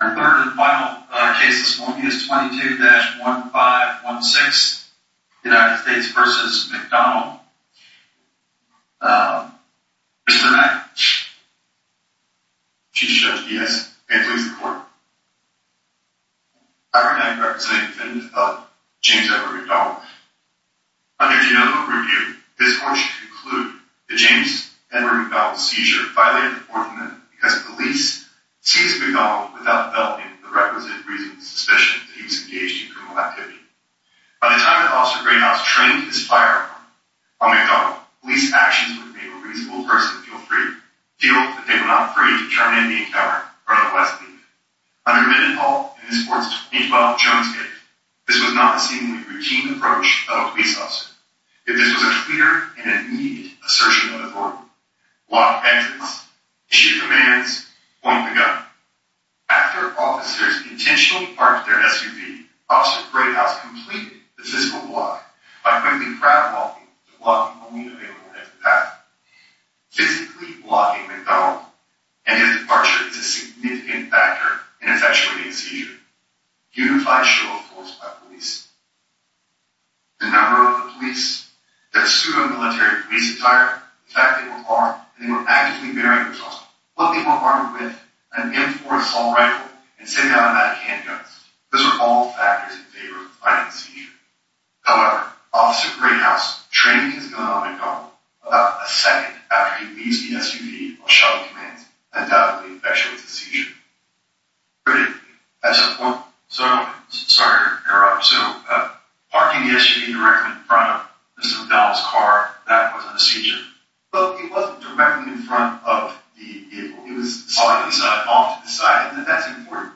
Our third and final case this morning is 22-1516 United States v. McDonald Mr. Mack Chief Judge Diaz, May I please report? I am representing the defendant of James Edward McDonald Under the Oval Review, this court should conclude that James Edward McDonald's seizure violated the Fourth Amendment because police seized McDonald without developing the requisite reasonable suspicion that he was engaged in criminal activity. By the time that Officer Greenhouse trained his firearm on McDonald, police actions would have made a reasonable person feel free to try and end the encounter in front of Wesley. Under Mendenhall and this court's 2012 Jones case, this was not a seemingly routine approach of a police officer. If this was a clear and immediate assertion of authority, block entrance, issue commands, point the gun. After officers intentionally parked their SUV, Officer Greenhouse completed the physical block by quickly crowd-walking to block the police available at the path. Physically blocking McDonald and his departure is a significant factor in effectuating the seizure. Human flesh will of course by police. The number of police, their pseudo-military police attire, the fact that they were armed and they were actively bearing arms on them, what they were armed with, an M4 assault rifle, and semi-automatic handguns. Those were all factors in favor of fighting the seizure. However, Officer Greenhouse trained his gun on McDonald about a second after he leaves the SUV on shuttle commands and undoubtedly effectuates the seizure. Sorry to interrupt. So parking the SUV directly in front of Mr. McDonald's car, that was a seizure? Well, it wasn't directly in front of the vehicle. It was off to the side. That's important.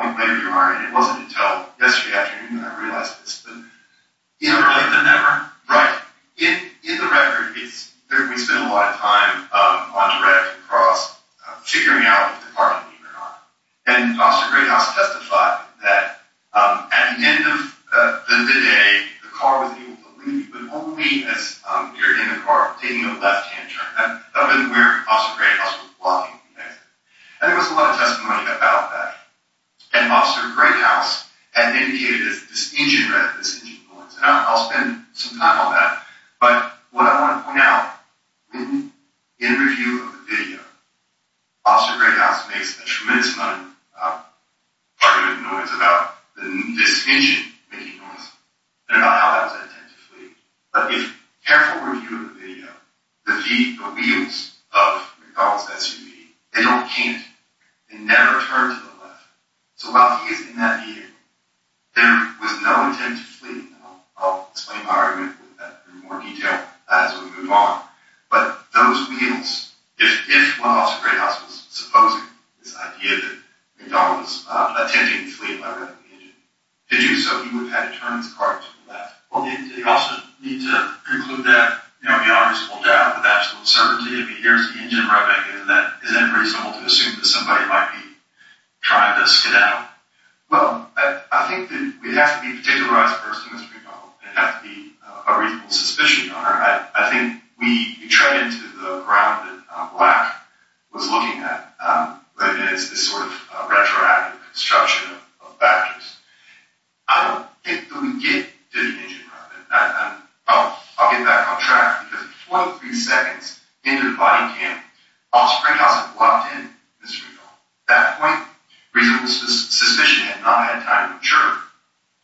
It wasn't until yesterday afternoon that I realized this. Earlier than ever? Right. In the record, we spent a lot of time on direct across figuring out if the car would leave or not. And Officer Greenhouse testified that at the end of the day, the car was able to leave, but only as you're in the car taking a left-hand turn. That wasn't where Officer Greenhouse was blocking the exit. And there was a lot of testimony about that. And Officer Greenhouse had indicated that this engine had this engine noise. And I'll spend some time on that. But what I want to point out, in review of the video, Officer Greenhouse makes a tremendous amount of argument and noise about this engine making noise and about how that was intent to flee. But if careful review of the video, the wheels of McDonald's SUV, they don't can't. They never turn to the left. So while he is in that vehicle, there was no intent to flee. And I'll explain my argument in more detail as we move on. But those wheels, if Officer Greenhouse was supposing this idea that McDonald's was attempting to flee by revving the engine, did you assume he would have had to turn his car to the left? Well, you also need to conclude that, you know, he obviously pulled out with absolute certainty. I mean, here's the engine revving. Isn't that reasonable to assume that somebody might be trying to skedaddle? Well, I think that we'd have to be a particularized person, Mr. Greenhouse. We'd have to be a reasonable suspicion. I think we tread into the ground that Black was looking at. And it's this sort of retroactive construction of batteries. I don't think that we get to the engine revving. I'll get back on track. Because 43 seconds into the body cam, Officer Greenhouse had blocked in Mr. McDonald. At that point, reasonable suspicion had not had time to mature,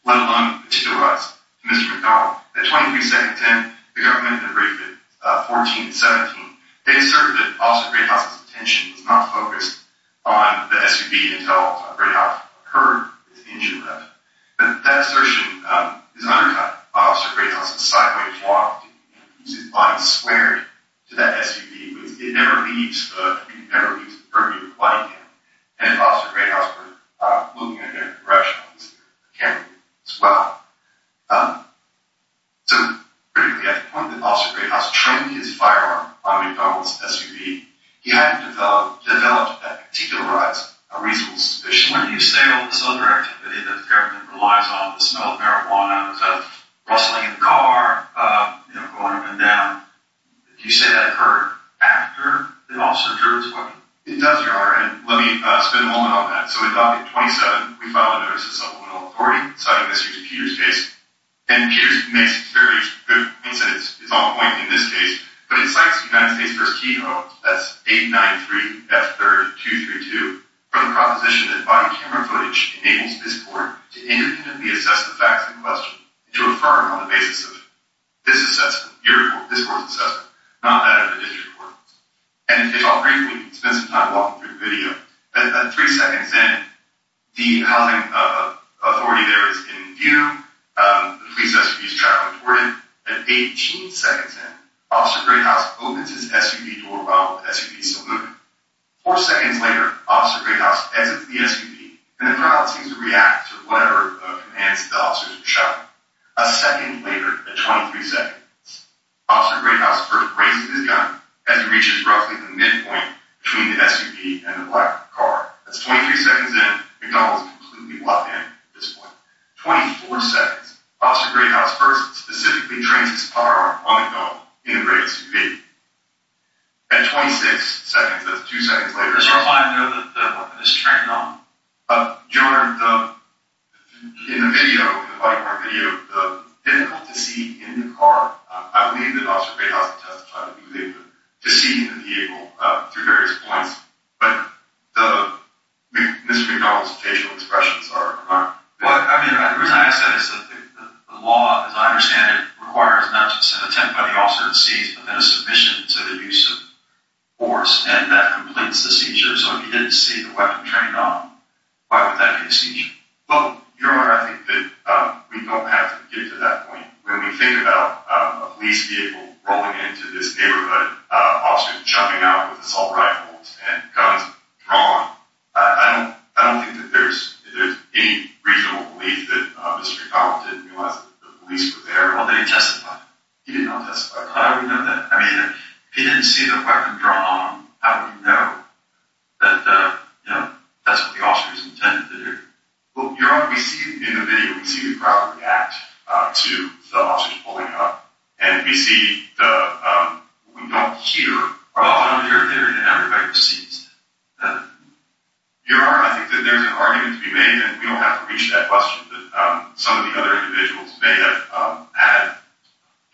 let alone to us. Mr. McDonald, at 23 seconds in, the government had briefed at 14 and 17. They asserted that Officer Greenhouse's attention was not focused on the SUV until a break-off occurred with the engine revving. But that assertion is undercut by Officer Greenhouse's sideways walk. He used his body squared to that SUV. It never leaves the curb of your body cam. And Officer Greenhouse was looking in a different direction on his camera as well. So, particularly at the point that Officer Greenhouse trimmed his firearm on McDonald's SUV, he hadn't developed that particularized reasonable suspicion. When you say all this other activity that the government relies on, the smell of marijuana, the sound of rustling in the car, going up and down, do you say that occurred after that Officer drew his weapon? It does, Your Honor. And let me spend a moment on that. So, we dock at 27. We file a notice of supplemental authority citing this using Peter's case. And Peter's case makes very good sense. It's on point in this case. But it cites United States First T.O. That's 893-F3232 for the proposition that body camera footage enables this court to independently assess the facts in question and to affirm on the basis of this court's assessment, not that of the district court. And if I'll briefly spend some time walking through the video, at three seconds in, the housing authority there is in view. The police SUV is traveling toward it. At 18 seconds in, Officer Greathouse opens his SUV door while the SUV is still moving. Four seconds later, Officer Greathouse exits the SUV, and the crowd seems to react to whatever commands the officers are shouting. A second later, at 23 seconds, Officer Greathouse first raises his gun as he reaches roughly the midpoint between the SUV and the black car. That's 23 seconds in. McDonald's completely locked in at this point. 24 seconds, Officer Greathouse first specifically trains his firearm on the gun in the red SUV. At 26 seconds, that's two seconds later. This is a reminder that the weapon is trained on. Your Honor, in the video, the body camera video, the vehicle to see in the car, I believe that Officer Greathouse had testified that he was able to see in the vehicle through various points. But Mr. McDonald's facial expressions are not. Well, I mean, the reason I ask that is that the law, as I understand it, requires not just an attempt by the officer to seize, but then a submission to the use of force, and that completes the seizure. So if he didn't see the weapon trained on, why would that be a seizure? Well, Your Honor, I think that we don't have to get to that point. When we think about a police vehicle rolling into this neighborhood, officers jumping out with assault rifles and guns drawn, I don't think that there's any reasonable belief that Mr. McDonald didn't realize that the police were there. Well, then he testified. He did not testify. How would he know that? I mean, if he didn't see the weapon drawn on, how would he know that that's what the officer was intended to do? Well, Your Honor, we see in the video, we see the crowd react to the officers pulling up, and we don't hear, oh, they're there, and everybody sees. Your Honor, I think that there's an argument to be made, and we don't have to reach that question. Some of the other individuals may have had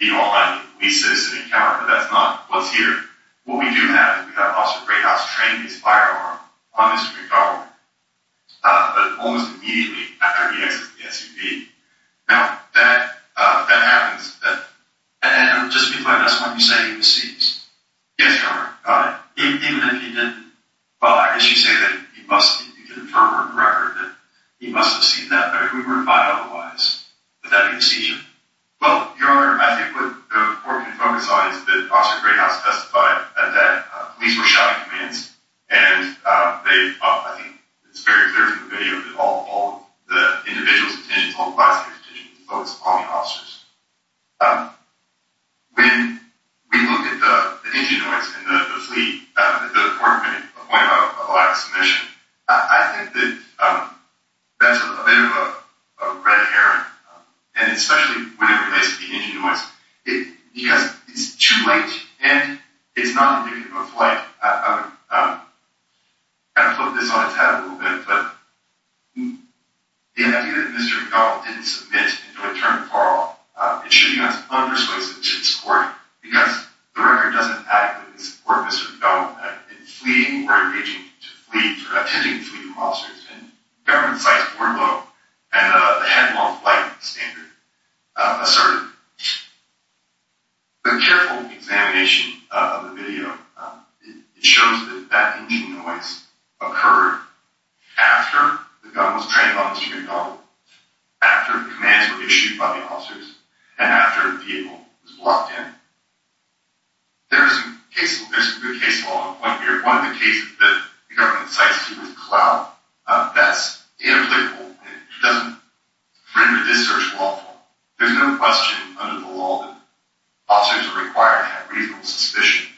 the online police citizen encounter, but that's not what's here. What we do have is we have Officer Greyhouse train his firearm on Mr. McDonald, but almost immediately after he exits the SUV. Now, that happens. And just to be clear, that's not to say he was seized. Yes, Your Honor. Even if he didn't, well, I guess you say that you can infer from the record that he must have seen that, but if we were to find otherwise, would that be a seizure? Well, Your Honor, I think what the court can focus on is that Officer Greyhouse testified that police were shouting commands, and I think it's very clear from the video that all the individual's attention, all the prosecutor's attention, was focused on the officers. When we look at the engine noise and the fleet, the court made a point about a lack of submission. I think that that's a bit of a red herring, and especially when it relates to the engine noise, because it's too late, and it's not indicative of flight. I'm going to put this on its head a little bit, but the idea that Mr. McDonald didn't submit until it turned 4-0, it should be on its own persuasive to this court, because the record doesn't adequately support Mr. McDonald in fleeting or engaging to fleets or attending fleeting officers, and government sites were low, and the headlong flight standard asserted. A careful examination of the video shows that that engine noise occurred after the gun was trained on Mr. McDonald, after the commands were issued by the officers, and after the vehicle was locked in. There's a good case law here. One of the cases that the government cites here was Clout. That's inapplicable. It doesn't render this search lawful. There's no question under the law that officers are required to have reasonable suspicion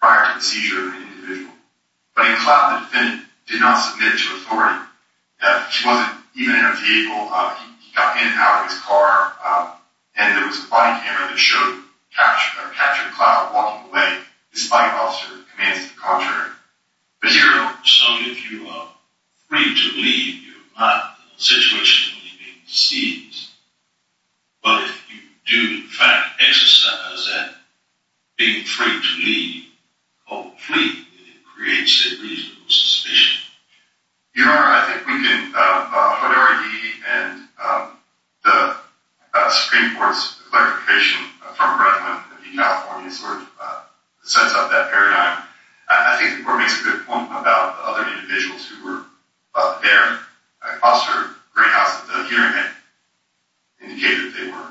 prior to the seizure of an individual. But in Clout, the defendant did not submit to authority. He wasn't even in a vehicle. He got in and out of his car, and there was a body camera that captured Clout walking away, despite the officer's commands to the contrary. So if you are free to leave, you're not in a situation where you're being seized. But if you do, in fact, exercise that being free to leave, hopefully it creates a reasonable suspicion. Your Honor, I think we can... What R.E.D. and the Supreme Court's clarification from Brentwood in California sort of sets up that paradigm. I think the Court makes a good point about the other individuals who were up there. Officer Greenhouse at the hearing had indicated they were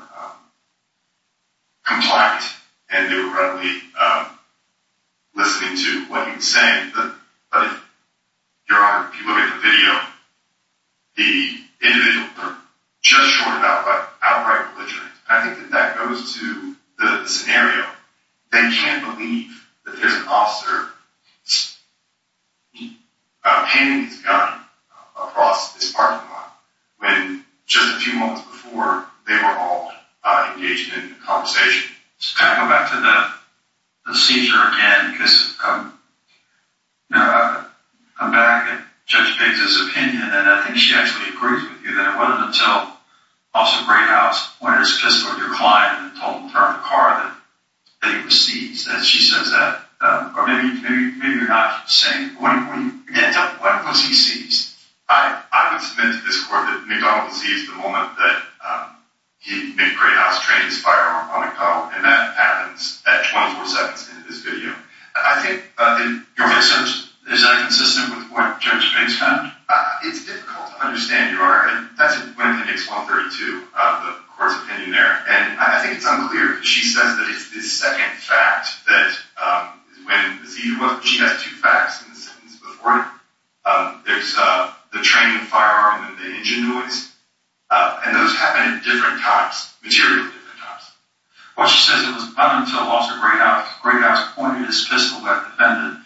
compliant and they were readily listening to what he was saying. Your Honor, if you look at the video, the individuals were just short of outright belligerent. I think that that goes to the scenario. They can't believe that there's an officer painting his gun across this parking lot when just a few moments before, they were all engaged in a conversation. Can I go back to the seizure again? Because I'm back at Judge Biggs' opinion, and I think she actually agrees with you there, whether until Officer Greenhouse went and spoke to your client and told him to turn the car, that he was seized, as she says that. Or maybe you're not saying... Yeah, tell me, when was he seized? I would submit to this Court that McDonald was seized the moment that he made Greenhouse train his firearm on McDonald, and that happens at 24 seconds into this video. I think... Is that inconsistent with what Judge Biggs found? It's difficult to understand, Your Honor. That's when it makes 132, the Court's opinion there. And I think it's unclear. She says that it's the second fact that when the seizure was... She has two facts in the sentence before it. There's the training firearm and the engine noise, and those happen at different times, materially at different times. Well, she says it was not until Officer Greenhouse pointed his pistol at the defendant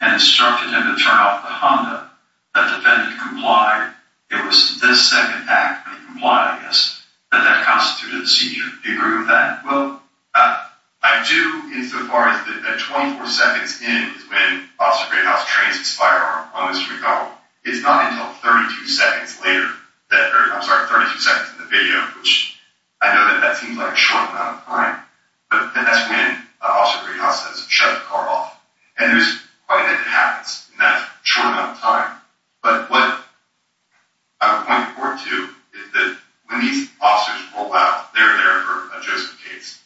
and instructed him to turn off the Honda that the defendant complied. It was the second act that he complied, I guess, that that constituted a seizure. Do you agree with that? Well, I do insofar as that 24 seconds in is when Officer Greenhouse trains his firearm on Mr. McDonald. It's not until 32 seconds later that... I'm sorry, 32 seconds in the video, which I know that that seems like a short amount of time, but that's when Officer Greenhouse has shut the car off. And there's quite a bit that happens in that short amount of time. But what I would point forward to is that when these officers roll out, they're there for a Joseph Cates,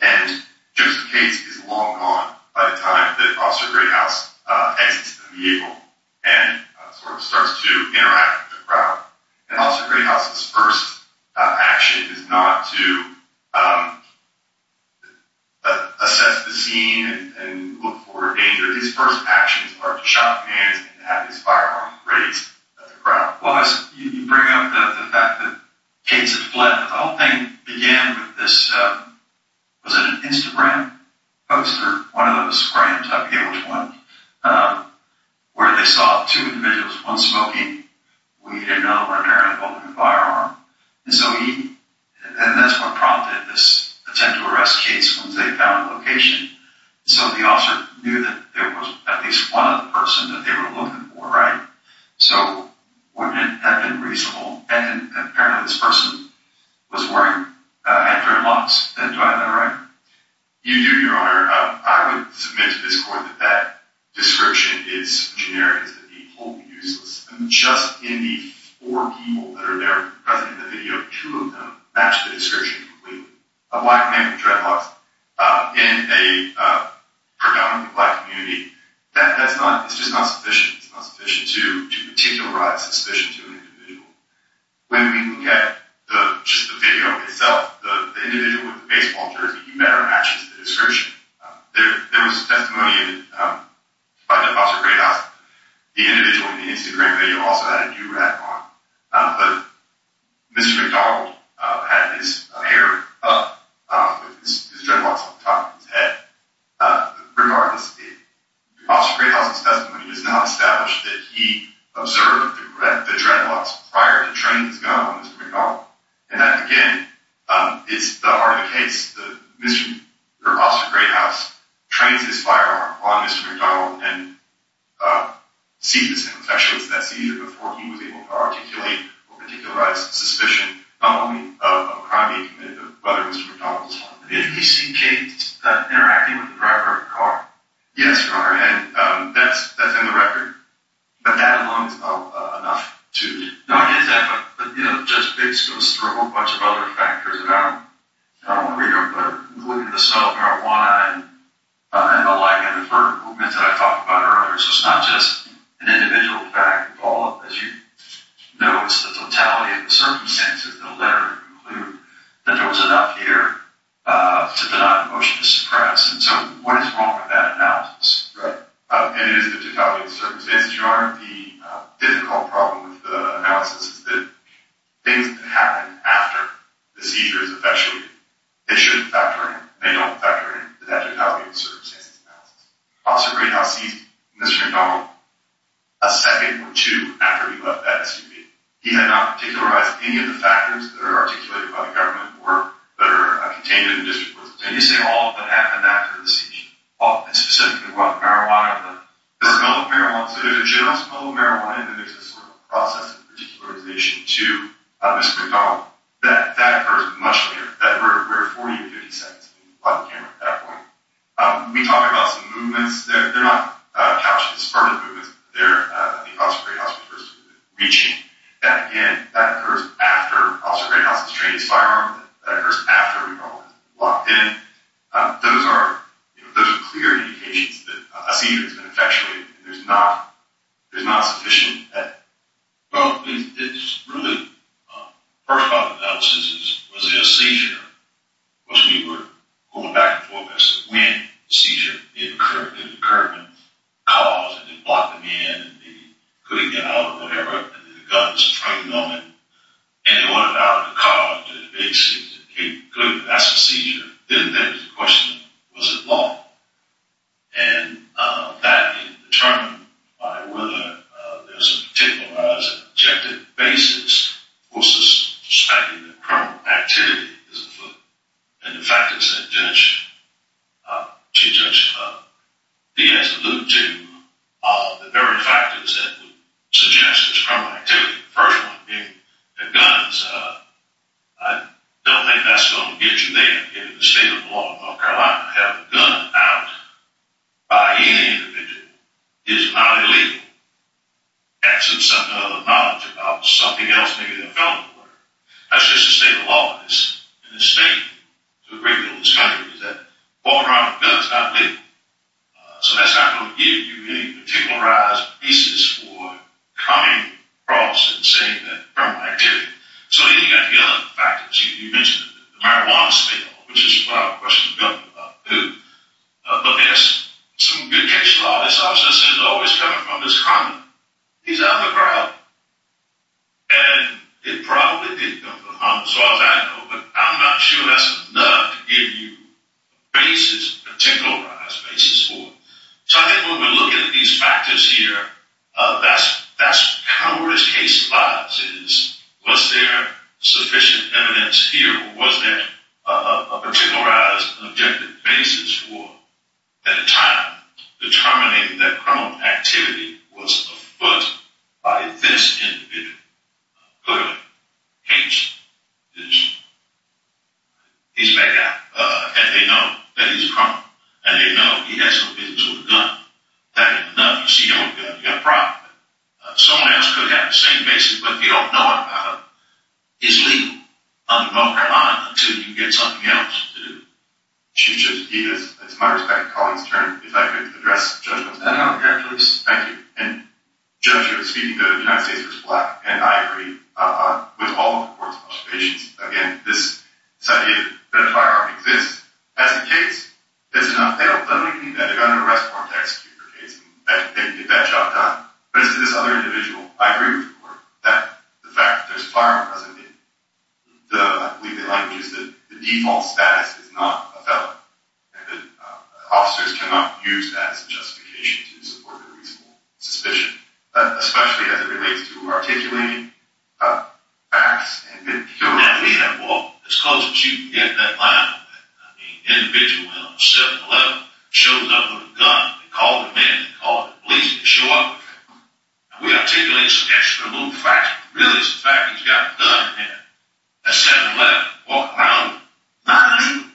and Joseph Cates is long gone by the time that Officer Greenhouse exits the vehicle and sort of starts to interact with the crowd. And Officer Greenhouse's first action is not to assess the scene and look for danger. His first actions are to shock hands and have his firearm raised at the crowd. You bring up the fact that Cates had fled. The whole thing began with this... Was it an Instagram poster? One of them was a random type, I think it was one, where they saw two individuals, one smoking, and the other one apparently holding a firearm. And that's what prompted this attempt to arrest Cates once they found the location. So the officer knew that there was at least one other person that they were looking for, right? So wouldn't it have been reasonable? And apparently this person was wearing a dreadlocks. Do I have that right? You do, Your Honor. I would submit to this court that that description is generic. It's completely useless. Just in the four people that are there present in the video, two of them match the description completely. A black man with dreadlocks in a predominantly black community, that's just not sufficient. It's not sufficient to particularize suspicion to an individual. When we look at just the video itself, the individual with the baseball jersey, you better match it to the description. There was a testimony by the officer at Greyhound. The individual in the Instagram video also had a do-rag on. But Mr. McDonald had his hair up, his dreadlocks at the top of his head. Regardless, the officer at Greyhound's testimony does not establish that he observed the dreadlocks prior to training his gun on Mr. McDonald. And that, again, is not part of the case. The officer at Greyhound trains his firearm on Mr. McDonald and sees his confession. That's even before he was able to articulate or particularize suspicion, not only of a crime he committed, but of whether Mr. McDonald was involved in it. Did he see Kate interacting with the driver of the car? Yes, your Honor. And that's in the record. But that alone is not enough to... No, it is that. But, you know, Judge Bates goes through a whole bunch of other factors about, I don't want to read them, but looking at the smell of marijuana and the like, and the verbal movements that I talked about earlier. So it's not just an individual fact. As you know, it's the totality of the circumstances that later conclude that there was enough here to deny a motion to suppress. And so what is wrong with that analysis? Right. And it is the totality of the circumstances. Your Honor, the difficult problem with the analysis is that things that happen after the seizure is officially, they shouldn't factor in. They don't factor in the totality of the circumstances of the analysis. Officer Greyhound sees Mr. McDonald a second or two after he left that SUV. He had not particularized any of the factors that are articulated by the government or that are contained in the district court. Can you say all of what happened after the seizure? And specifically what marijuana, the smell of marijuana. So there's a general smell of marijuana, and then there's a sort of process of particularization to Mr. McDonald. That occurs much later. We're at 40 or 50 seconds on camera at that point. We talk about some movements. They're not couched in the spur of the moment. They're the officer Greyhound's first movement, reaching. That occurs after Officer Greyhound has trained his firearm. That occurs after we've all been locked in. Those are clear indications that a seizure has been effectuated. There's not sufficient evidence. First part of the analysis is, was it a seizure? Because we were going back and forth as to when the seizure occurred. Did it occur in the cause? Did they block them in? Could they get out or whatever? Did the guns strike them on them? And what about the cause? Did they basically say, okay, good, that's a seizure. Then there's the question, was it long? And that is determined by whether there's a particularized objective basis versus the perspective that criminal activity is at fault. And the factors that Judge Diaz alluded to are the very factors that would suggest there's criminal activity. The first one being the guns. I don't think that's going to get you there. The state of the law in North Carolina, having a gun out by any individual is not illegal. Adds to some of the knowledge about something else, maybe a felony or whatever. That's just the state of the law in this state, the great deal of this country, is that walking around with a gun is not legal. So that's not going to give you any particularized basis for coming across and saying that criminal activity. So then you've got the other factors. You mentioned the marijuana spill, which is a question about who. But there's some good case law. This officer is always coming from this crime. He's out in the crowd. And it probably didn't come from the homicidal as I know. But I'm not sure that's enough to give you a basis, a particularized basis for it. So I think when we look at these factors here, that's kind of where this case lies, is was there sufficient evidence here? Or was there a particularized and objective basis for, at the time, determining that criminal activity was a foot by this individual? Clearly, he's a bad guy. And they know that he's a criminal. And they know he has no business with a gun. You see, you've got a problem. Someone else could have the same basis. But if you don't know about it, it's legal on the marijuana until you get something else to do. Chief Judge DeVos, it's my respect to Collin's turn. If I could address Judge Montanaro here, please. Thank you. And, Judge, you were speaking to the United States v. Black. And I agree with all the court's observations. Again, this idea that a firearm exists as a case, that's enough. They don't literally need a gun in a restaurant to execute a case. But as to this other individual, I agree with the court. The fact that there's a firearm doesn't mean. I believe the language is that the default status is not a felon. And that officers cannot use that as a justification to support their reasonable suspicion, especially as it relates to articulating facts. Now, we have law. As close as you can get to that line. I mean, an individual in a 7-11 shows up with a gun. They call the man. They call the police. They show up. We articulate some extra little facts. Really, it's the fact that he's got a gun in his hand. A 7-11 walking around with a gun.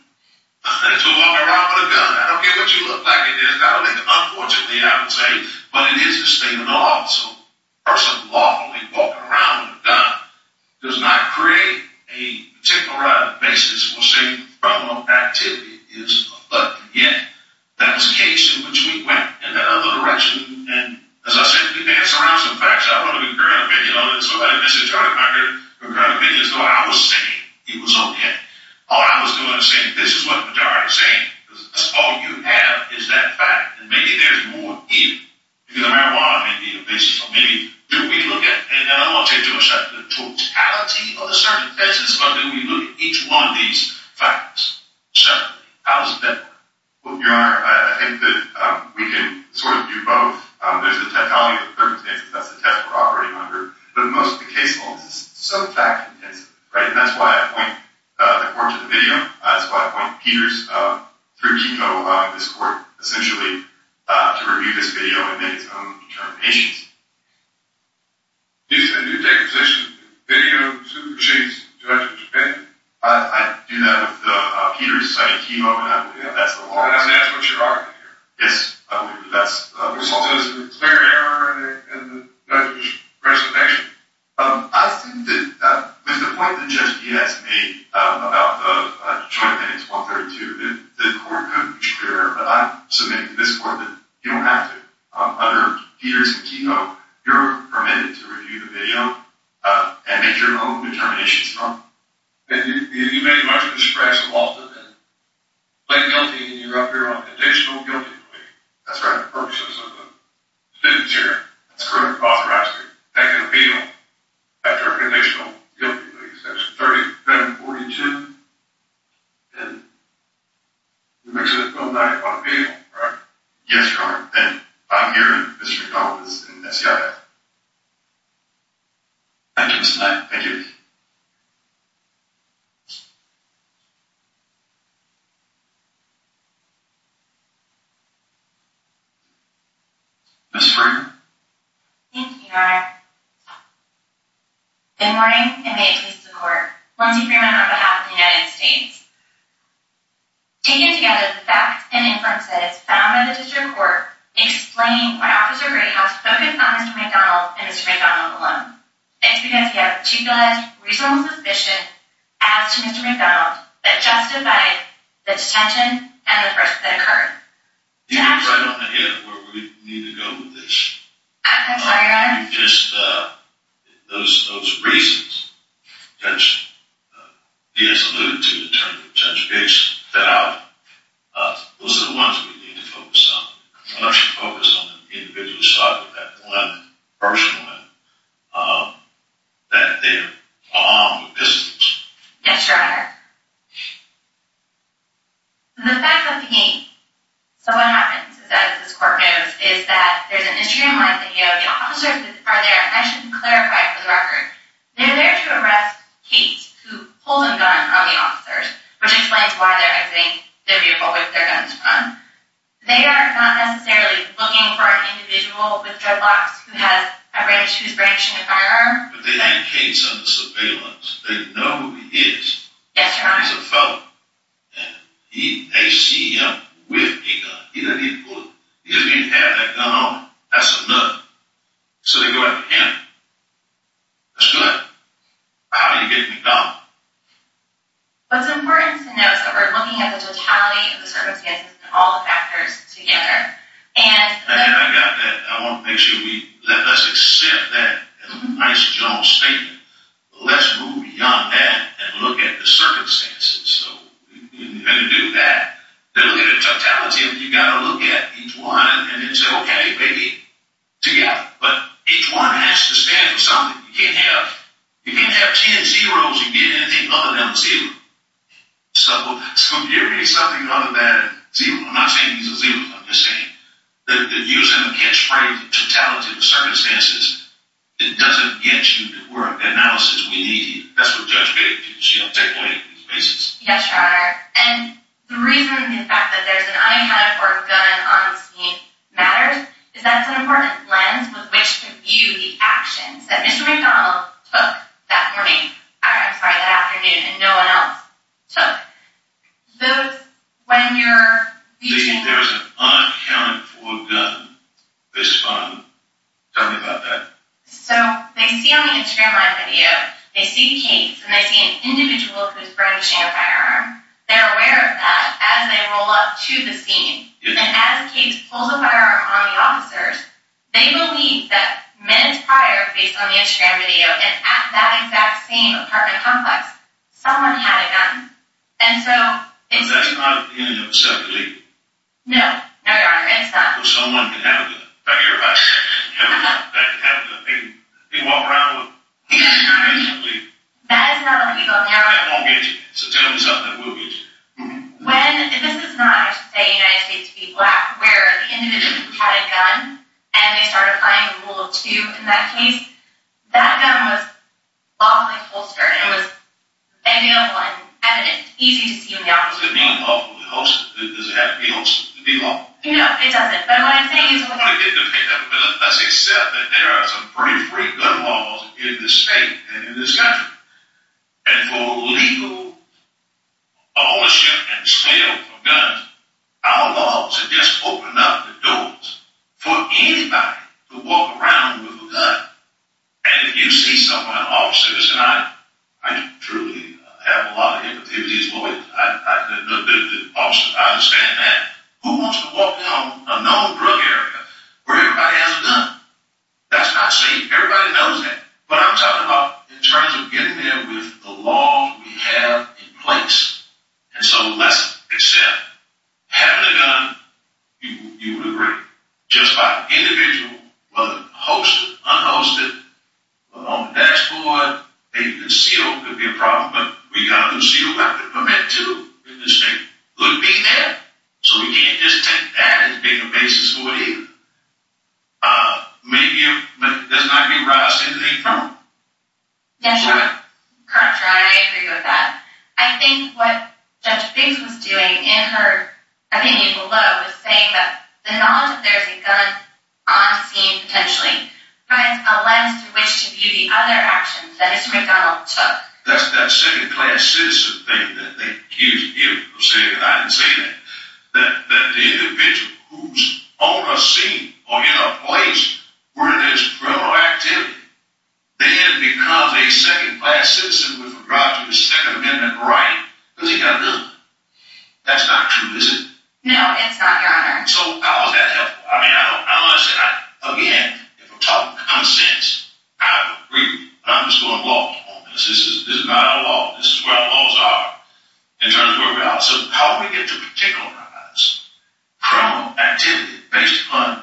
It's a walking around with a gun. I don't care what you look like it is. Unfortunately, I would say, but it is the state of the law. So a person lawfully walking around with a gun does not create a particular basis for saying the problem of activity is a felony. Yet, that was the case in which we went. As I said, we dance around some facts. I don't have a grand opinion on this. I don't have a grand opinion. So I was saying it was okay. All I was doing was saying this is what the majority are saying. All you have is that fact. And maybe there's more here. Because marijuana may be the basis. Or maybe, do we look at, and I don't want to take to a certain totality of the circumstances, but do we look at each one of these facts separately? How does that work? Well, Your Honor, I think that we can sort of do both. There's the totality of the circumstances. That's the test we're operating under. But most of the case is so fact-intensive. And that's why I point the court to the video. That's why I point Peters through Timo, this court, essentially, to review this video and make its own determinations. Do you take a position that video supersedes the judge's opinion? I do that with Peters. I mean, Timo and I believe that's the law. And that's what you're arguing here? Yes, I believe that's the law. The result is a clear error in the judge's reservation. I think that with the point that Judge Diaz made about the Detroit Penance 132, the court couldn't be clearer. But I submit to this court that you don't have to. Under Peters and Timo, you're permitted to review the video and make your own determinations, Your Honor. And you made much of a scratch in Walden, then. Plaintiff guilty, and you're up here on conditional guilty plea. That's right. The purpose of the sentence here. That's correct. Authorized to take an appeal after conditional guilty plea. Section 3742. And you make a no-doubt appeal, right? Yes, Your Honor. And I'm here in the district office in SCIF. Thank you, Mr. Knight. Thank you. Ms. Freeman. Thank you, Your Honor. Good morning, and may it please the court, 1C Freeman on behalf of the United States. Taken together, the facts and inferences found in the district court explain why Officer Greenhouse focused on Mr. McDonald and Mr. McDonald alone. It's because he had a particular reasonable suspicion as to Mr. McDonald that justified the detention and the arrest that occurred. You have no idea where we need to go with this. I'm sorry, Your Honor. Those reasons that he has alluded to, in terms of judge Bix, those are the ones we need to focus on. Unless you focus on the individual's side of that dilemma, personal dilemma, that they are armed with dissonance. Yes, Your Honor. The fact of the game. So what happens is, as this court knows, is that there's an instrument like the AO. The officers are there, and I should clarify for the record, they're there to arrest Cates, who holds a gun on the officers, which explains why they're exiting the vehicle with their guns on. They are not necessarily looking for an individual with dreadlocks who has a branch, who's branching a firearm. But they had Cates under surveillance. They know who he is. Yes, Your Honor. He's a fellow, and they see him with a gun. He doesn't even have that gun on him. That's a look. So they go ahead and pin him. That's good. How do you get the gun? What's important to note is that we're looking at the totality of the circumstances and all the factors together. And I got that. I want to make sure we let us accept that as a nice, general statement. Let's move beyond that and look at the circumstances. So we're going to do that. They're looking at the totality, and you've got to look at each one and then say, okay, baby, together. But each one has to stand for something. You can't have ten zeros and get anything other than a zero. So you're getting something other than a zero. I'm not saying these are zeros. I'm just saying that using a catchphrase, totality of circumstances, it doesn't get you to work. Analysis, we need you. That's what Judge Bates is, you know, take away from these cases. Yes, Your Honor. And the reason the fact that there's an unaccounted for gun on the scene matters is that it's an important lens with which to view the actions that Mr. McDonald took that morning. I'm sorry, that afternoon, and no one else took. Those, when you're reaching... There's an unaccounted for gun this time. Tell me about that. So they see on the Instagram live video, they see Kate, and they see an individual who's bringing a firearm. They're aware of that as they roll up to the scene. And as Kate pulls a firearm on the officers, they believe that minutes prior, based on the Instagram video, and at that exact same apartment complex, someone had a gun. And so... No, Your Honor, it's not. Or someone could have a gun. In fact, everybody has a gun. That could happen to them. They walk around with a gun, basically. That is not a legal marijuana. That won't get you. So tell me something that will get you. When... This is not, I should say, United States v. Black, where the individual had a gun, and they started applying the rule of two in that case. That gun was lawfully holstered, and it was a male one, evident, easy to see in the eye. Does it mean lawfully holstered? Does it have to be holstered to be lawful? No, it doesn't. But what I'm saying is... It depends. Let's accept that there are some pretty free gun laws in this state and in this country. And for legal ownership and sale of guns, our laws have just opened up the doors for anybody to walk around with a gun. And if you see someone, an officer... Listen, I truly have a lot of impotence as a lawyer. The officers, I understand that. Who wants to walk down a known drug area where everybody has a gun? That's not safe. Everybody knows that. But I'm talking about in terms of getting there with the laws we have in place. And so let's accept... Having a gun, you would agree. Just by individual... Whether it's holstered, unholstered, or on the dashboard... Maybe the seal could be a problem, but we've got a new seal we have to commit to in this state. It would be there. So we can't just take that as being a basis for whatever. Maybe there's not going to be a rise to anything from it. That's right. That's right. I agree with that. I think what Judge Biggs was doing in her opinion below was saying that the knowledge that there's a gun on scene, potentially, provides a lens through which to view the other actions that Mr. McDonald took. That second-class citizen thing I didn't say that. That the individual who's on a scene or in a place where there's criminal activity then becomes a second-class citizen with regard to the Second Amendment right, because he's got a gun. That's not true, is it? No, it's not, Your Honor. So how is that helpful? I mean, I don't want to say... Again, if we're talking consents, I would agree. But I'm just going to walk on this. This is not a law. This is where our laws are in terms of how we get to particularize criminal activity based upon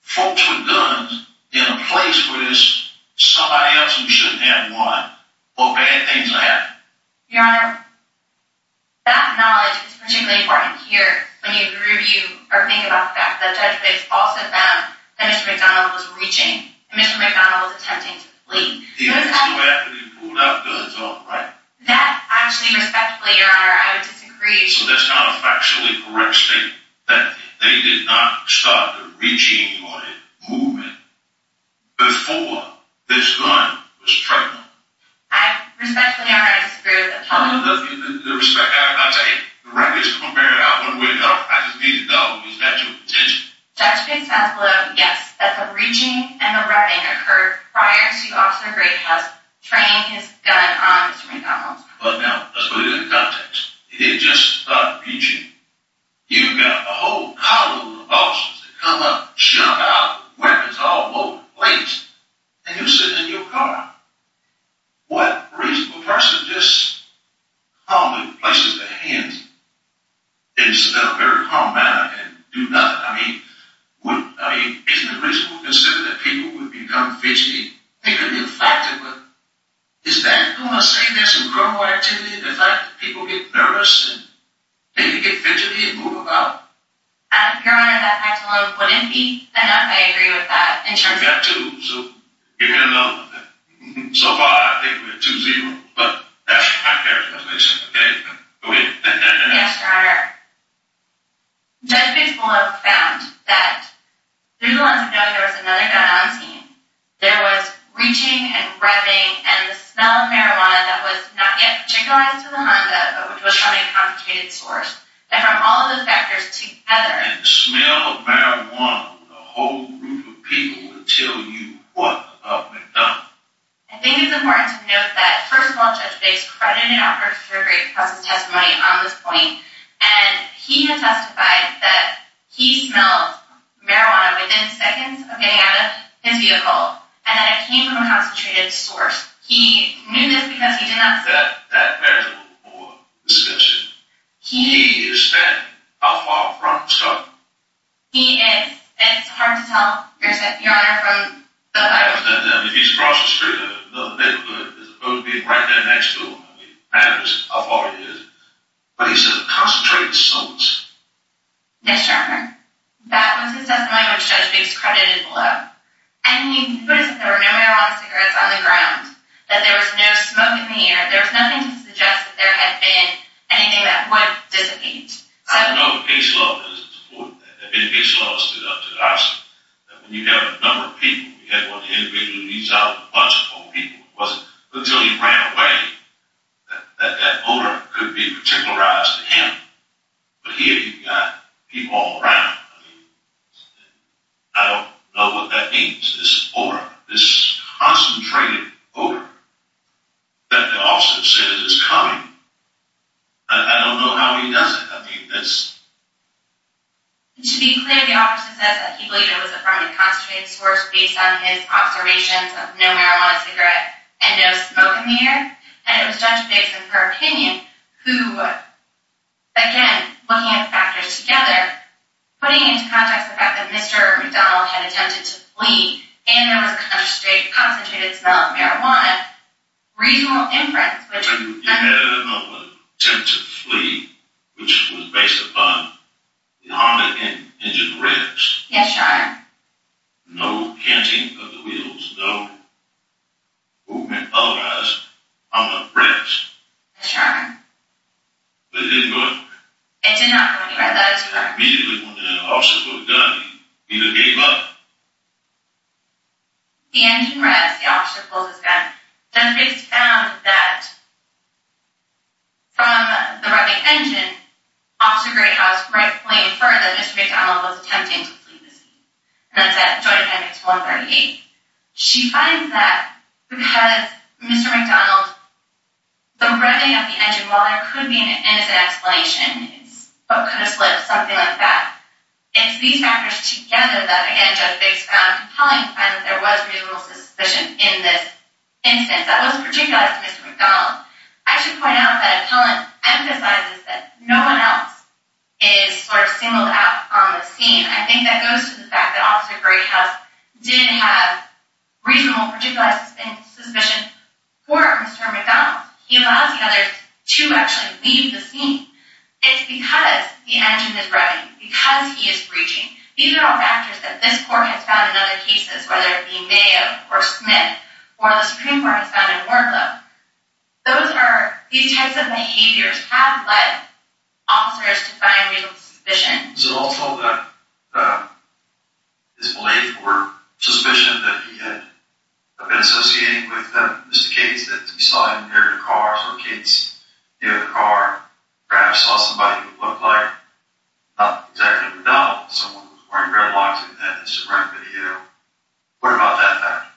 folks with guns in a place where there's somebody else who shouldn't have one, or bad things will happen. Your Honor, that knowledge is particularly important here when you review or think about the fact that Judge Biggs also found that Mr. McDonald was reaching. Mr. McDonald was attempting to flee. He didn't do that, but he pulled out the gun, right? That, actually, respectfully, Your Honor, I would disagree. So that's not a factually correct statement, that they did not start the reaching or the movement before this gun was trademarked? Respectfully, Your Honor, I disagree with that. The respect... I'll tell you... I just need to know... Was that your intention? Judge Biggs has blown, yes, that the reaching and the rubbing occurred prior to Officer Gray has trained his gun on Mr. McDonald. But now, let's put it in context. He didn't just start reaching. You've got a whole column of officers that come up, jump out, weapons all over the place, and you're sitting in your car. What reasonable person just calmly places their hands in a very calm manner and do nothing? I mean, isn't it reasonable to consider that people would become fidgety? It could be a factor. But is that going to say there's some criminal activity? The fact that people get nervous and maybe get fidgety and move about? Your Honor, that fact alone wouldn't be enough. I agree with that in terms of... We've got two. So give me another one. So far, I think we have two zeroes. But that's my characterization. Okay? Yes, Your Honor. Judge Biggs will have found that through the lens of note, there was another gun on scene. There was reaching and revving and the smell of marijuana that was not yet particularized to the Honda, but which was from a complicated source. And from all of those factors together... And the smell of marijuana with a whole group of people would tell you what had been done. I think it's important to note that, first of all, Judge Biggs credited officers for a great process testimony on this point. And he had testified that he smelled marijuana within seconds of getting out of his vehicle. And that it came from a concentrated source. He knew this because he did not... That variable or description. He... He is standing. How far from Scott? He is. And it's hard to tell, Your Honor, from the... He's across the street. The neighborhood is supposed to be right there next to him. I mean, I don't know how far he is. But he said a concentrated source. Yes, Your Honor. That was his testimony, which Judge Biggs credited below. And he put it as if there were no marijuana cigarettes on the ground. That there was no smoke in the air. There was nothing to suggest that there had been anything that would dissipate. So... I know that Biggs' law doesn't support that. I mean, Biggs' law stood up to the option that when you have a number of people... You had one individual who leaves out a bunch of old people. It wasn't until he ran away that that odor could be particularized to him. But here you've got people all around. I don't know what that means. This odor. This concentrated odor. That the officer says is coming. I don't know how he does it. I mean, that's... To be clear, the officer says that he believes it was a permanent concentrated source based on his observations of no marijuana cigarettes and no smoke in the air. And it was Judge Biggs, in her opinion, who, again, looking at the factors together, putting into context the fact that Mr. McDonald had attempted to flee, and there was a concentrated smell of marijuana, reasonable inference, which... You had an attempt to flee, which was based upon the Honda engine revs. Yes, Your Honor. No canting of the wheels. No movement, otherwise, on the revs. Yes, Your Honor. But it didn't go anywhere. It did not go anywhere. That is correct. Immediately when the officer pulled the gun, he either gave up... The engine revs, the officer pulls his gun. Judge Biggs found that, from the revving engine, Officer Greathouse rightfully inferred that Mr. McDonald was attempting to flee the scene. And that's at Joint Headings 138. She finds that because Mr. McDonald, the revving of the engine, while there could be an innocent explanation, could have slipped, something like that, it's these factors together that, again, Judge Biggs found compelling to find that there was reasonable suspicion in this instance. That was particular to Mr. McDonald. I should point out that Appellant emphasizes that no one else is singled out on the scene. I think that goes to the fact that Officer Greathouse did have reasonable, particularized suspicion for Mr. McDonald. He allows the others to actually leave the scene. It's because the engine is revving, because he is breaching. These are all factors that this court has found in other cases, whether it be Mayo or Smith, or the Supreme Court has found in Wardlow. These types of behaviors have led officers to find reasonable suspicion. Is it also that his belief or suspicion that he had been associating with Mr. Cates, that we saw him near the car, saw Cates near the car, perhaps saw somebody who looked like not exactly McDonald, someone who was wearing red locks, and had a surrounding video. What about that factor?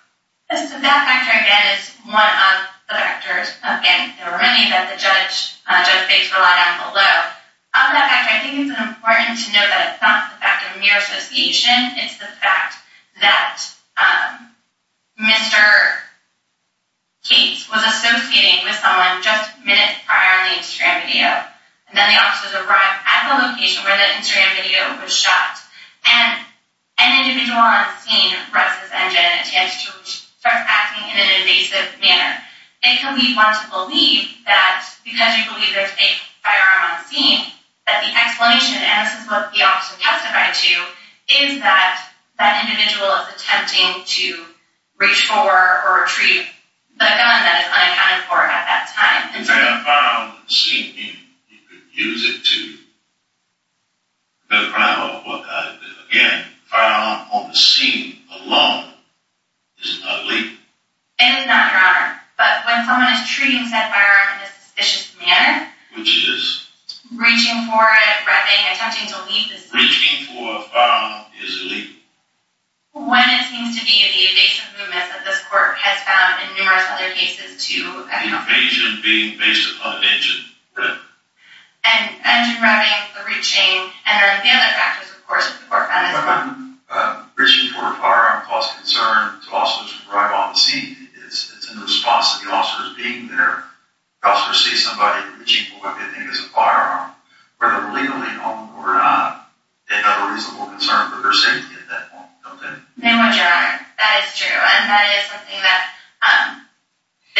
That factor, again, is one of the factors. Again, there were many that the judge, Judge Biggs, relied on below. Of that factor, I think it's important to note that it's not the fact of mere association. It's the fact that Mr. Cates was associating with someone just minutes prior on the Instagram video. Then the officers arrive at the location where the Instagram video was shot, and an individual on scene ruts his engine and attempts to start acting in an evasive manner. It can be hard to believe that, because you believe there's a firearm on the scene, that the explanation, and this is what the officer testified to, is that that individual is attempting to reach for or retrieve a gun that is unaccounted for at that time. It is not your honor, but when someone is treating said firearm in a suspicious manner... Which is? Reaching for it, grabbing it, attempting to leave the scene... Reaching for a firearm is illegal? When it seems to be the evasive movement that this court has found in numerous other cases, too. Evasion being based upon an engine. Right. And engine grabbing, the reaching, and the other factors, of course, that the court found as well. When reaching for a firearm causes concern to officers who arrive on the scene, it's in response to the officers being there to see somebody reaching for what they think is a firearm, whether legally or not. It's a reasonable concern for their safety at that point, don't you think? Very much, your honor. That is true. And that is something that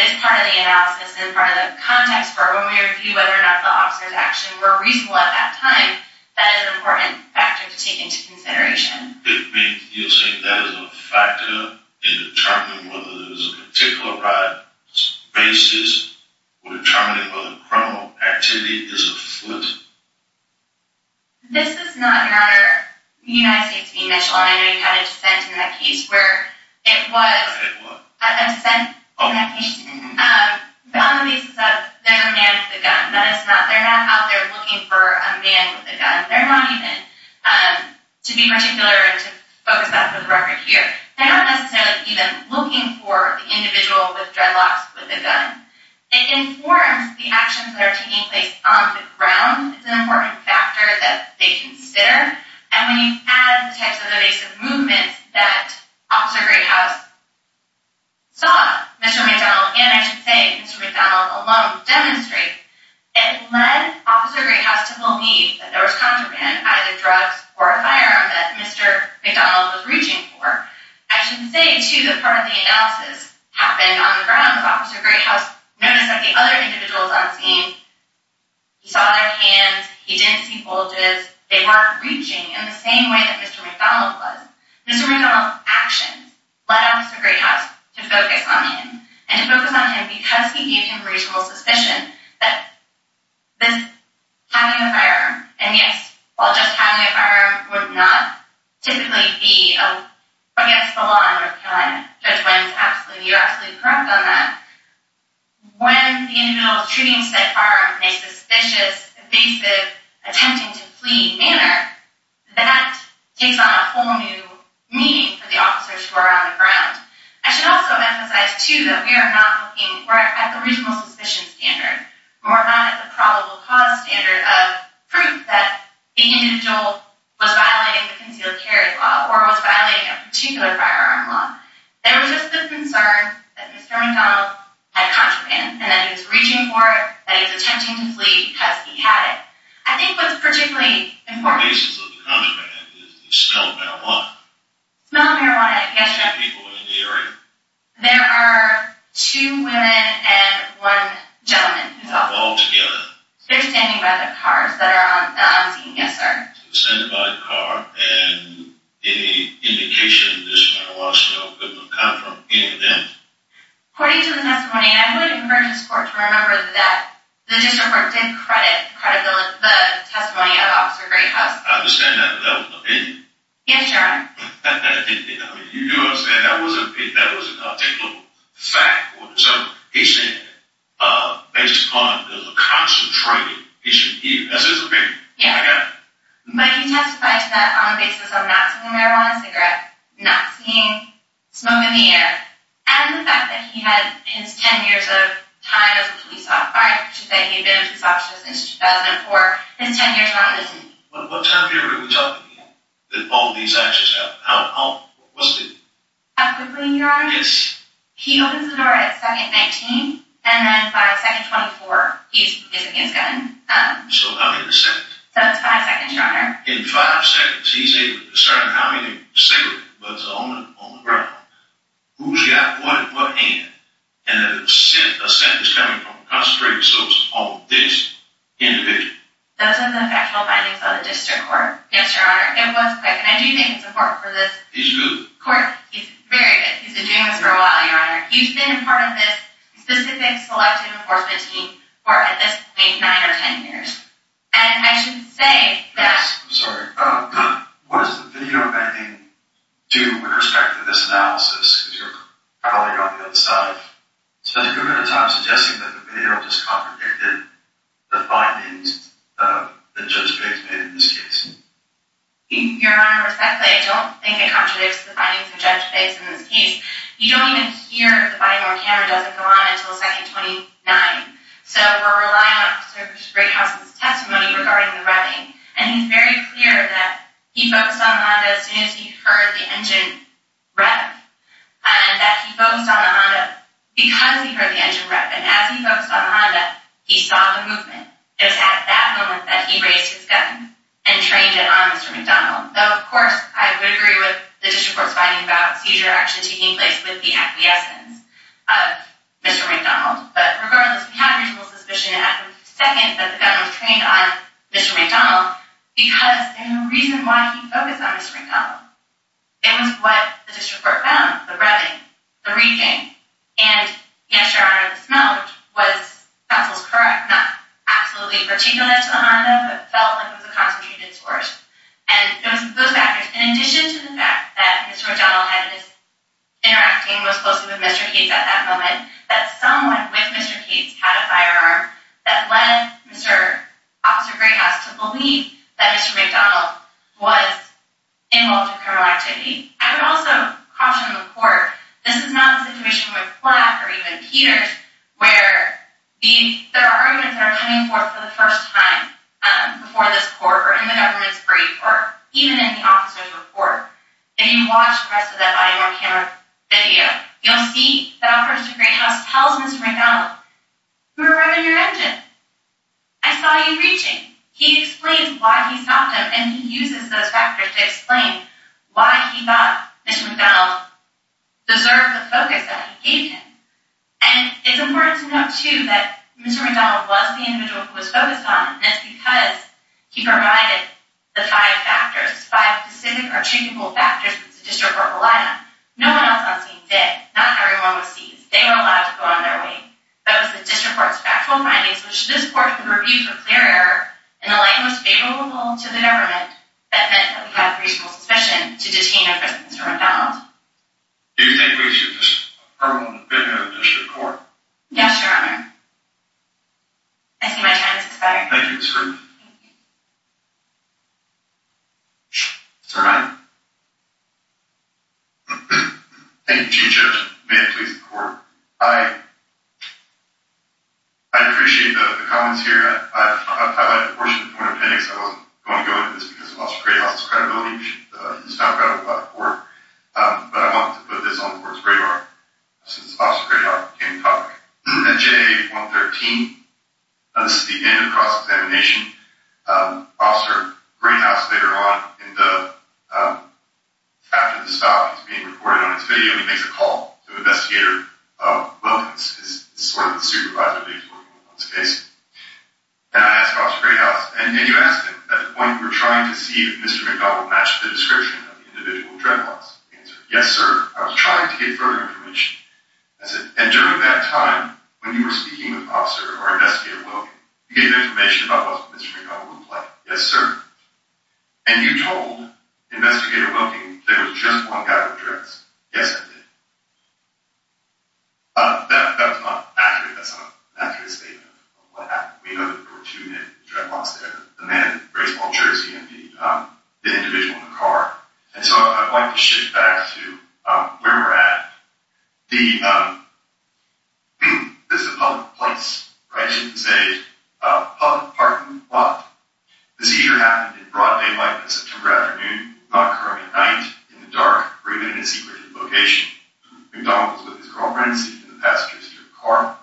is part of the analysis and part of the context for when we review whether or not the officers actually were reasonable at that time. That is an important factor to take into consideration. You're saying that is a factor in determining whether there was a particular basis for determining whether criminal activity is afoot? This is not, your honor, the United States being national, and I know you had a dissent in that case, where it was... I had what? A dissent in that case. On the basis of they're a man with a gun. That is not. They're not out there looking for a man with a gun. They're not even, to be particular, and to focus that for the record here, they're not necessarily even looking for the individual with dreadlocks with a gun. It informs the actions that are taking place on the ground. It's an important factor that they consider, and when you add the types of evasive movements that Officer Greathouse saw Mr. McDonald, and I should say Mr. McDonald alone, demonstrate, it led Officer Greathouse to believe that there was contraband, either drugs or a firearm, that Mr. McDonald was reaching for. I should say, too, that part of the analysis happened on the ground. Officer Greathouse noticed that the other individuals on scene, he saw their hands, he didn't see bulges, they weren't reaching in the same way that Mr. McDonald was. Mr. McDonald's actions led Officer Greathouse to focus on him, and to focus on him because he gave him reasonable suspicion that having a firearm, and yes, while just having a firearm would not typically be against the law in North Carolina, Judge Wins, you're absolutely correct on that, when the individual is treating said firearm in a suspicious, evasive, attempting to flee manner, that takes on a whole new meaning for the officers who are on the ground. I should also emphasize, too, that we are not looking, we're at the reasonable suspicion standard. We're not at the probable cause standard of proof that the individual was violating the concealed carry law, or was violating a particular firearm law. There was just the concern that Mr. McDonald had contraband, and that he was reaching for it, that he was attempting to flee because he had it. I think what's particularly important... The basis of the contraband is the smell of marijuana. The smell of marijuana, yes, sir. There are two people in the area. There are two women and one gentleman. All together. They're standing by the cars that are on scene, yes, sir. They're standing by the car, and any indication of the smell of marijuana could come from any of them. According to the testimony, I'm going to converge this court to remember that the district court did credit the testimony of Officer Greyhouse. I understand that, but that was an opinion. Yes, Your Honor. You do understand that was an opinion. That was a technical fact. He said, based upon the concentrated issue, that's his opinion. I got it. But he testified that on the basis of not smoking a marijuana cigarette, not seeing smoke in the air, and the fact that he had his 10 years of time as a police officer. I should say he had been a police officer since 2004. His 10 years are on the scene. What time period are we talking here that all of these actions happened? How quickly, Your Honor? Yes. He opens the door at second 19, and then by second 24, he's releasing his gun. So how many seconds? That's five seconds, Your Honor. In five seconds, he's able to discern how many cigarettes was on the ground, who's got what and what ain't, and a sentence coming from concentrated source on this individual. Those are the factual findings of the district court. Yes, Your Honor. It was quick, and I do think it's important for this court. He's good. He's very good. He's been doing this for a while, Your Honor. He's been a part of this specific selective enforcement team for, at this point, nine or 10 years. And I should say that... I'm sorry. What does the video of anything do with respect to this analysis? Because you're probably on the other side. So there's a good amount of time suggesting that the video just contradicted the findings that Judge Biggs made in this case. Your Honor, respectfully, I don't think it contradicts the findings of Judge Biggs in this case. You don't even hear if the body-worn camera doesn't go on until second 29. So we're relying on Officer Greathouse's testimony regarding the revving. And he's very clear that he focused on the Honda as soon as he heard the engine rev, and that he focused on the Honda because he heard the engine rev. And as he focused on the Honda, he saw the movement. It was at that moment that he raised his gun and trained it on Mr. McDonald. Though, of course, I would agree with the district court's finding about seizure actually taking place with the acquiescence. Mr. McDonald. But regardless, we have reasonable suspicion at the second that the gun was trained on Mr. McDonald because there's a reason why he focused on Mr. McDonald. It was what the district court found. The revving. The reading. And, yes, Your Honor, the smell was correct. Not absolutely particular to the Honda, but felt like it was a concentrated source. And it was those factors, in addition to the fact that Mr. McDonald was interacting most closely with Mr. Cates at that moment, that someone with Mr. Cates had a firearm that led Officer Greyhouse to believe that Mr. McDonald was involved in criminal activity. I would also caution the court. This is not a situation with Black or even Peters where there are arguments that are coming forth for the first time before this court or in the government's brief or even in the officer's report. If you watch the rest of that body-worn camera video, you'll see that Officer Greyhouse tells Mr. McDonald, You were revving your engine. I saw you reaching. He explains why he stopped him and he uses those factors to explain why he thought Mr. McDonald deserved the focus that he gave him. And it's important to note, too, that Mr. McDonald was the individual who was focused on him, and it's because he provided the five factors, five specific attributable factors, that the district court relied on. No one else on scene did. Not everyone was seized. They were allowed to go on their way. But it was the district court's factual findings, which this court can review for clear error in the light most favorable to the government, that meant that we have reasonable suspicion to detain a person as Mr. McDonald. Do you think we should just permanently put him in the district court? Yes, Your Honor. I see my time has expired. Thank you. Sir, Mike. Thank you, Chief Judge. May it please the court. I appreciate the comments here. I've highlighted a portion of the point of appendix. I wasn't going to go into this because of Officer Greyhouse's credibility. He's not credible by the court. But I wanted to put this on the court's radar since Officer Greyhouse became the topic. At J-113, this is the end of the cross-examination. Officer Greyhouse, later on, after this file is being recorded on his video, he makes a call to Investigator Wilkins, who's sort of the supervisor that he's working with on this case. And I asked Officer Greyhouse, and you asked him at the point you were trying to see if Mr. McDonald matched the description of the individual dreadlocks. He answered, yes, sir. I was trying to get further information. I said, and during that time, when you were speaking with Officer or Investigator Wilkins, you gave information about what Mr. McDonald looked like. Yes, sir. And you told Investigator Wilkins there was just one guy with dreadlocks. Yes, I did. That's not accurate. That's not an accurate statement of what happened. We know that there were two men with dreadlocks there. The man in a very small jersey, indeed. The individual in the car. And so I'd like to shift back to where we're at. This is a public place, right? This is a public parking lot. The seizure happened in broad daylight on a September afternoon, not occurring at night, in the dark, or even in a secret location. McDonald was with his girlfriend, seated in the passenger seat of the car.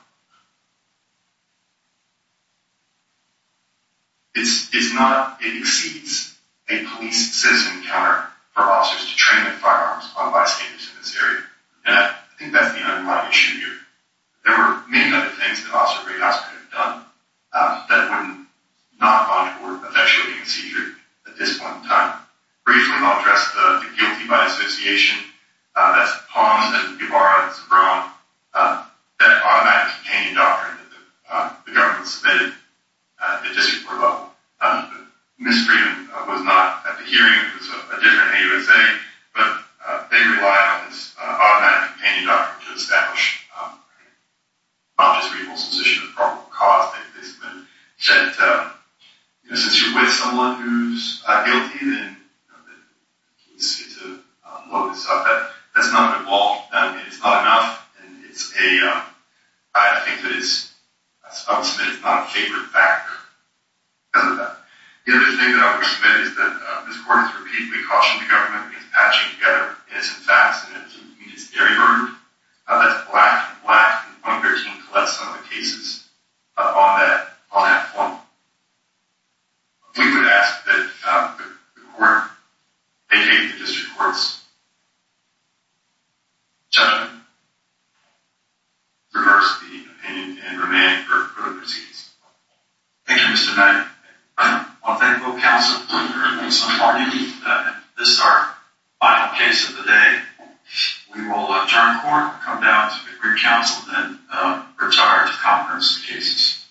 It exceeds a police citizen encounter for officers to train their firearms on bystanders in this area. And I think that's the underlying issue here. There were many other things that Officer Grayhouse could have done that would not have gone toward effectuating a seizure at this point in time. Briefly, I'll address the guilty by association. That's the Palms, that's the Guevara, that's the Braun, that automatic companion doctrine that the government submitted at the district court level. Misdreaven was not at the hearing. It was a different AUSA. But they relied on this automatic companion doctrine to establish not just grievance but a position of probable cause. They said, since you're with someone who's guilty, then the police need to load this up. That's not a good law. It's not enough. I would submit it's not a favored factor. The other thing that I would submit is that this court has repeatedly cautioned the government against patching together innocent facts and that to me is very rude. That's black and black, and I'm urging to let some of the cases on that form. We would ask that the court, a.k.a. the district court's judgment reverse the opinion and remand for the proceedings. Thank you, Mr. Bennett. I'll thank both counsel, Mr. Hardy, and this is our final case of the day. We will adjourn court, come down to the Green Council, and retire to conference of cases.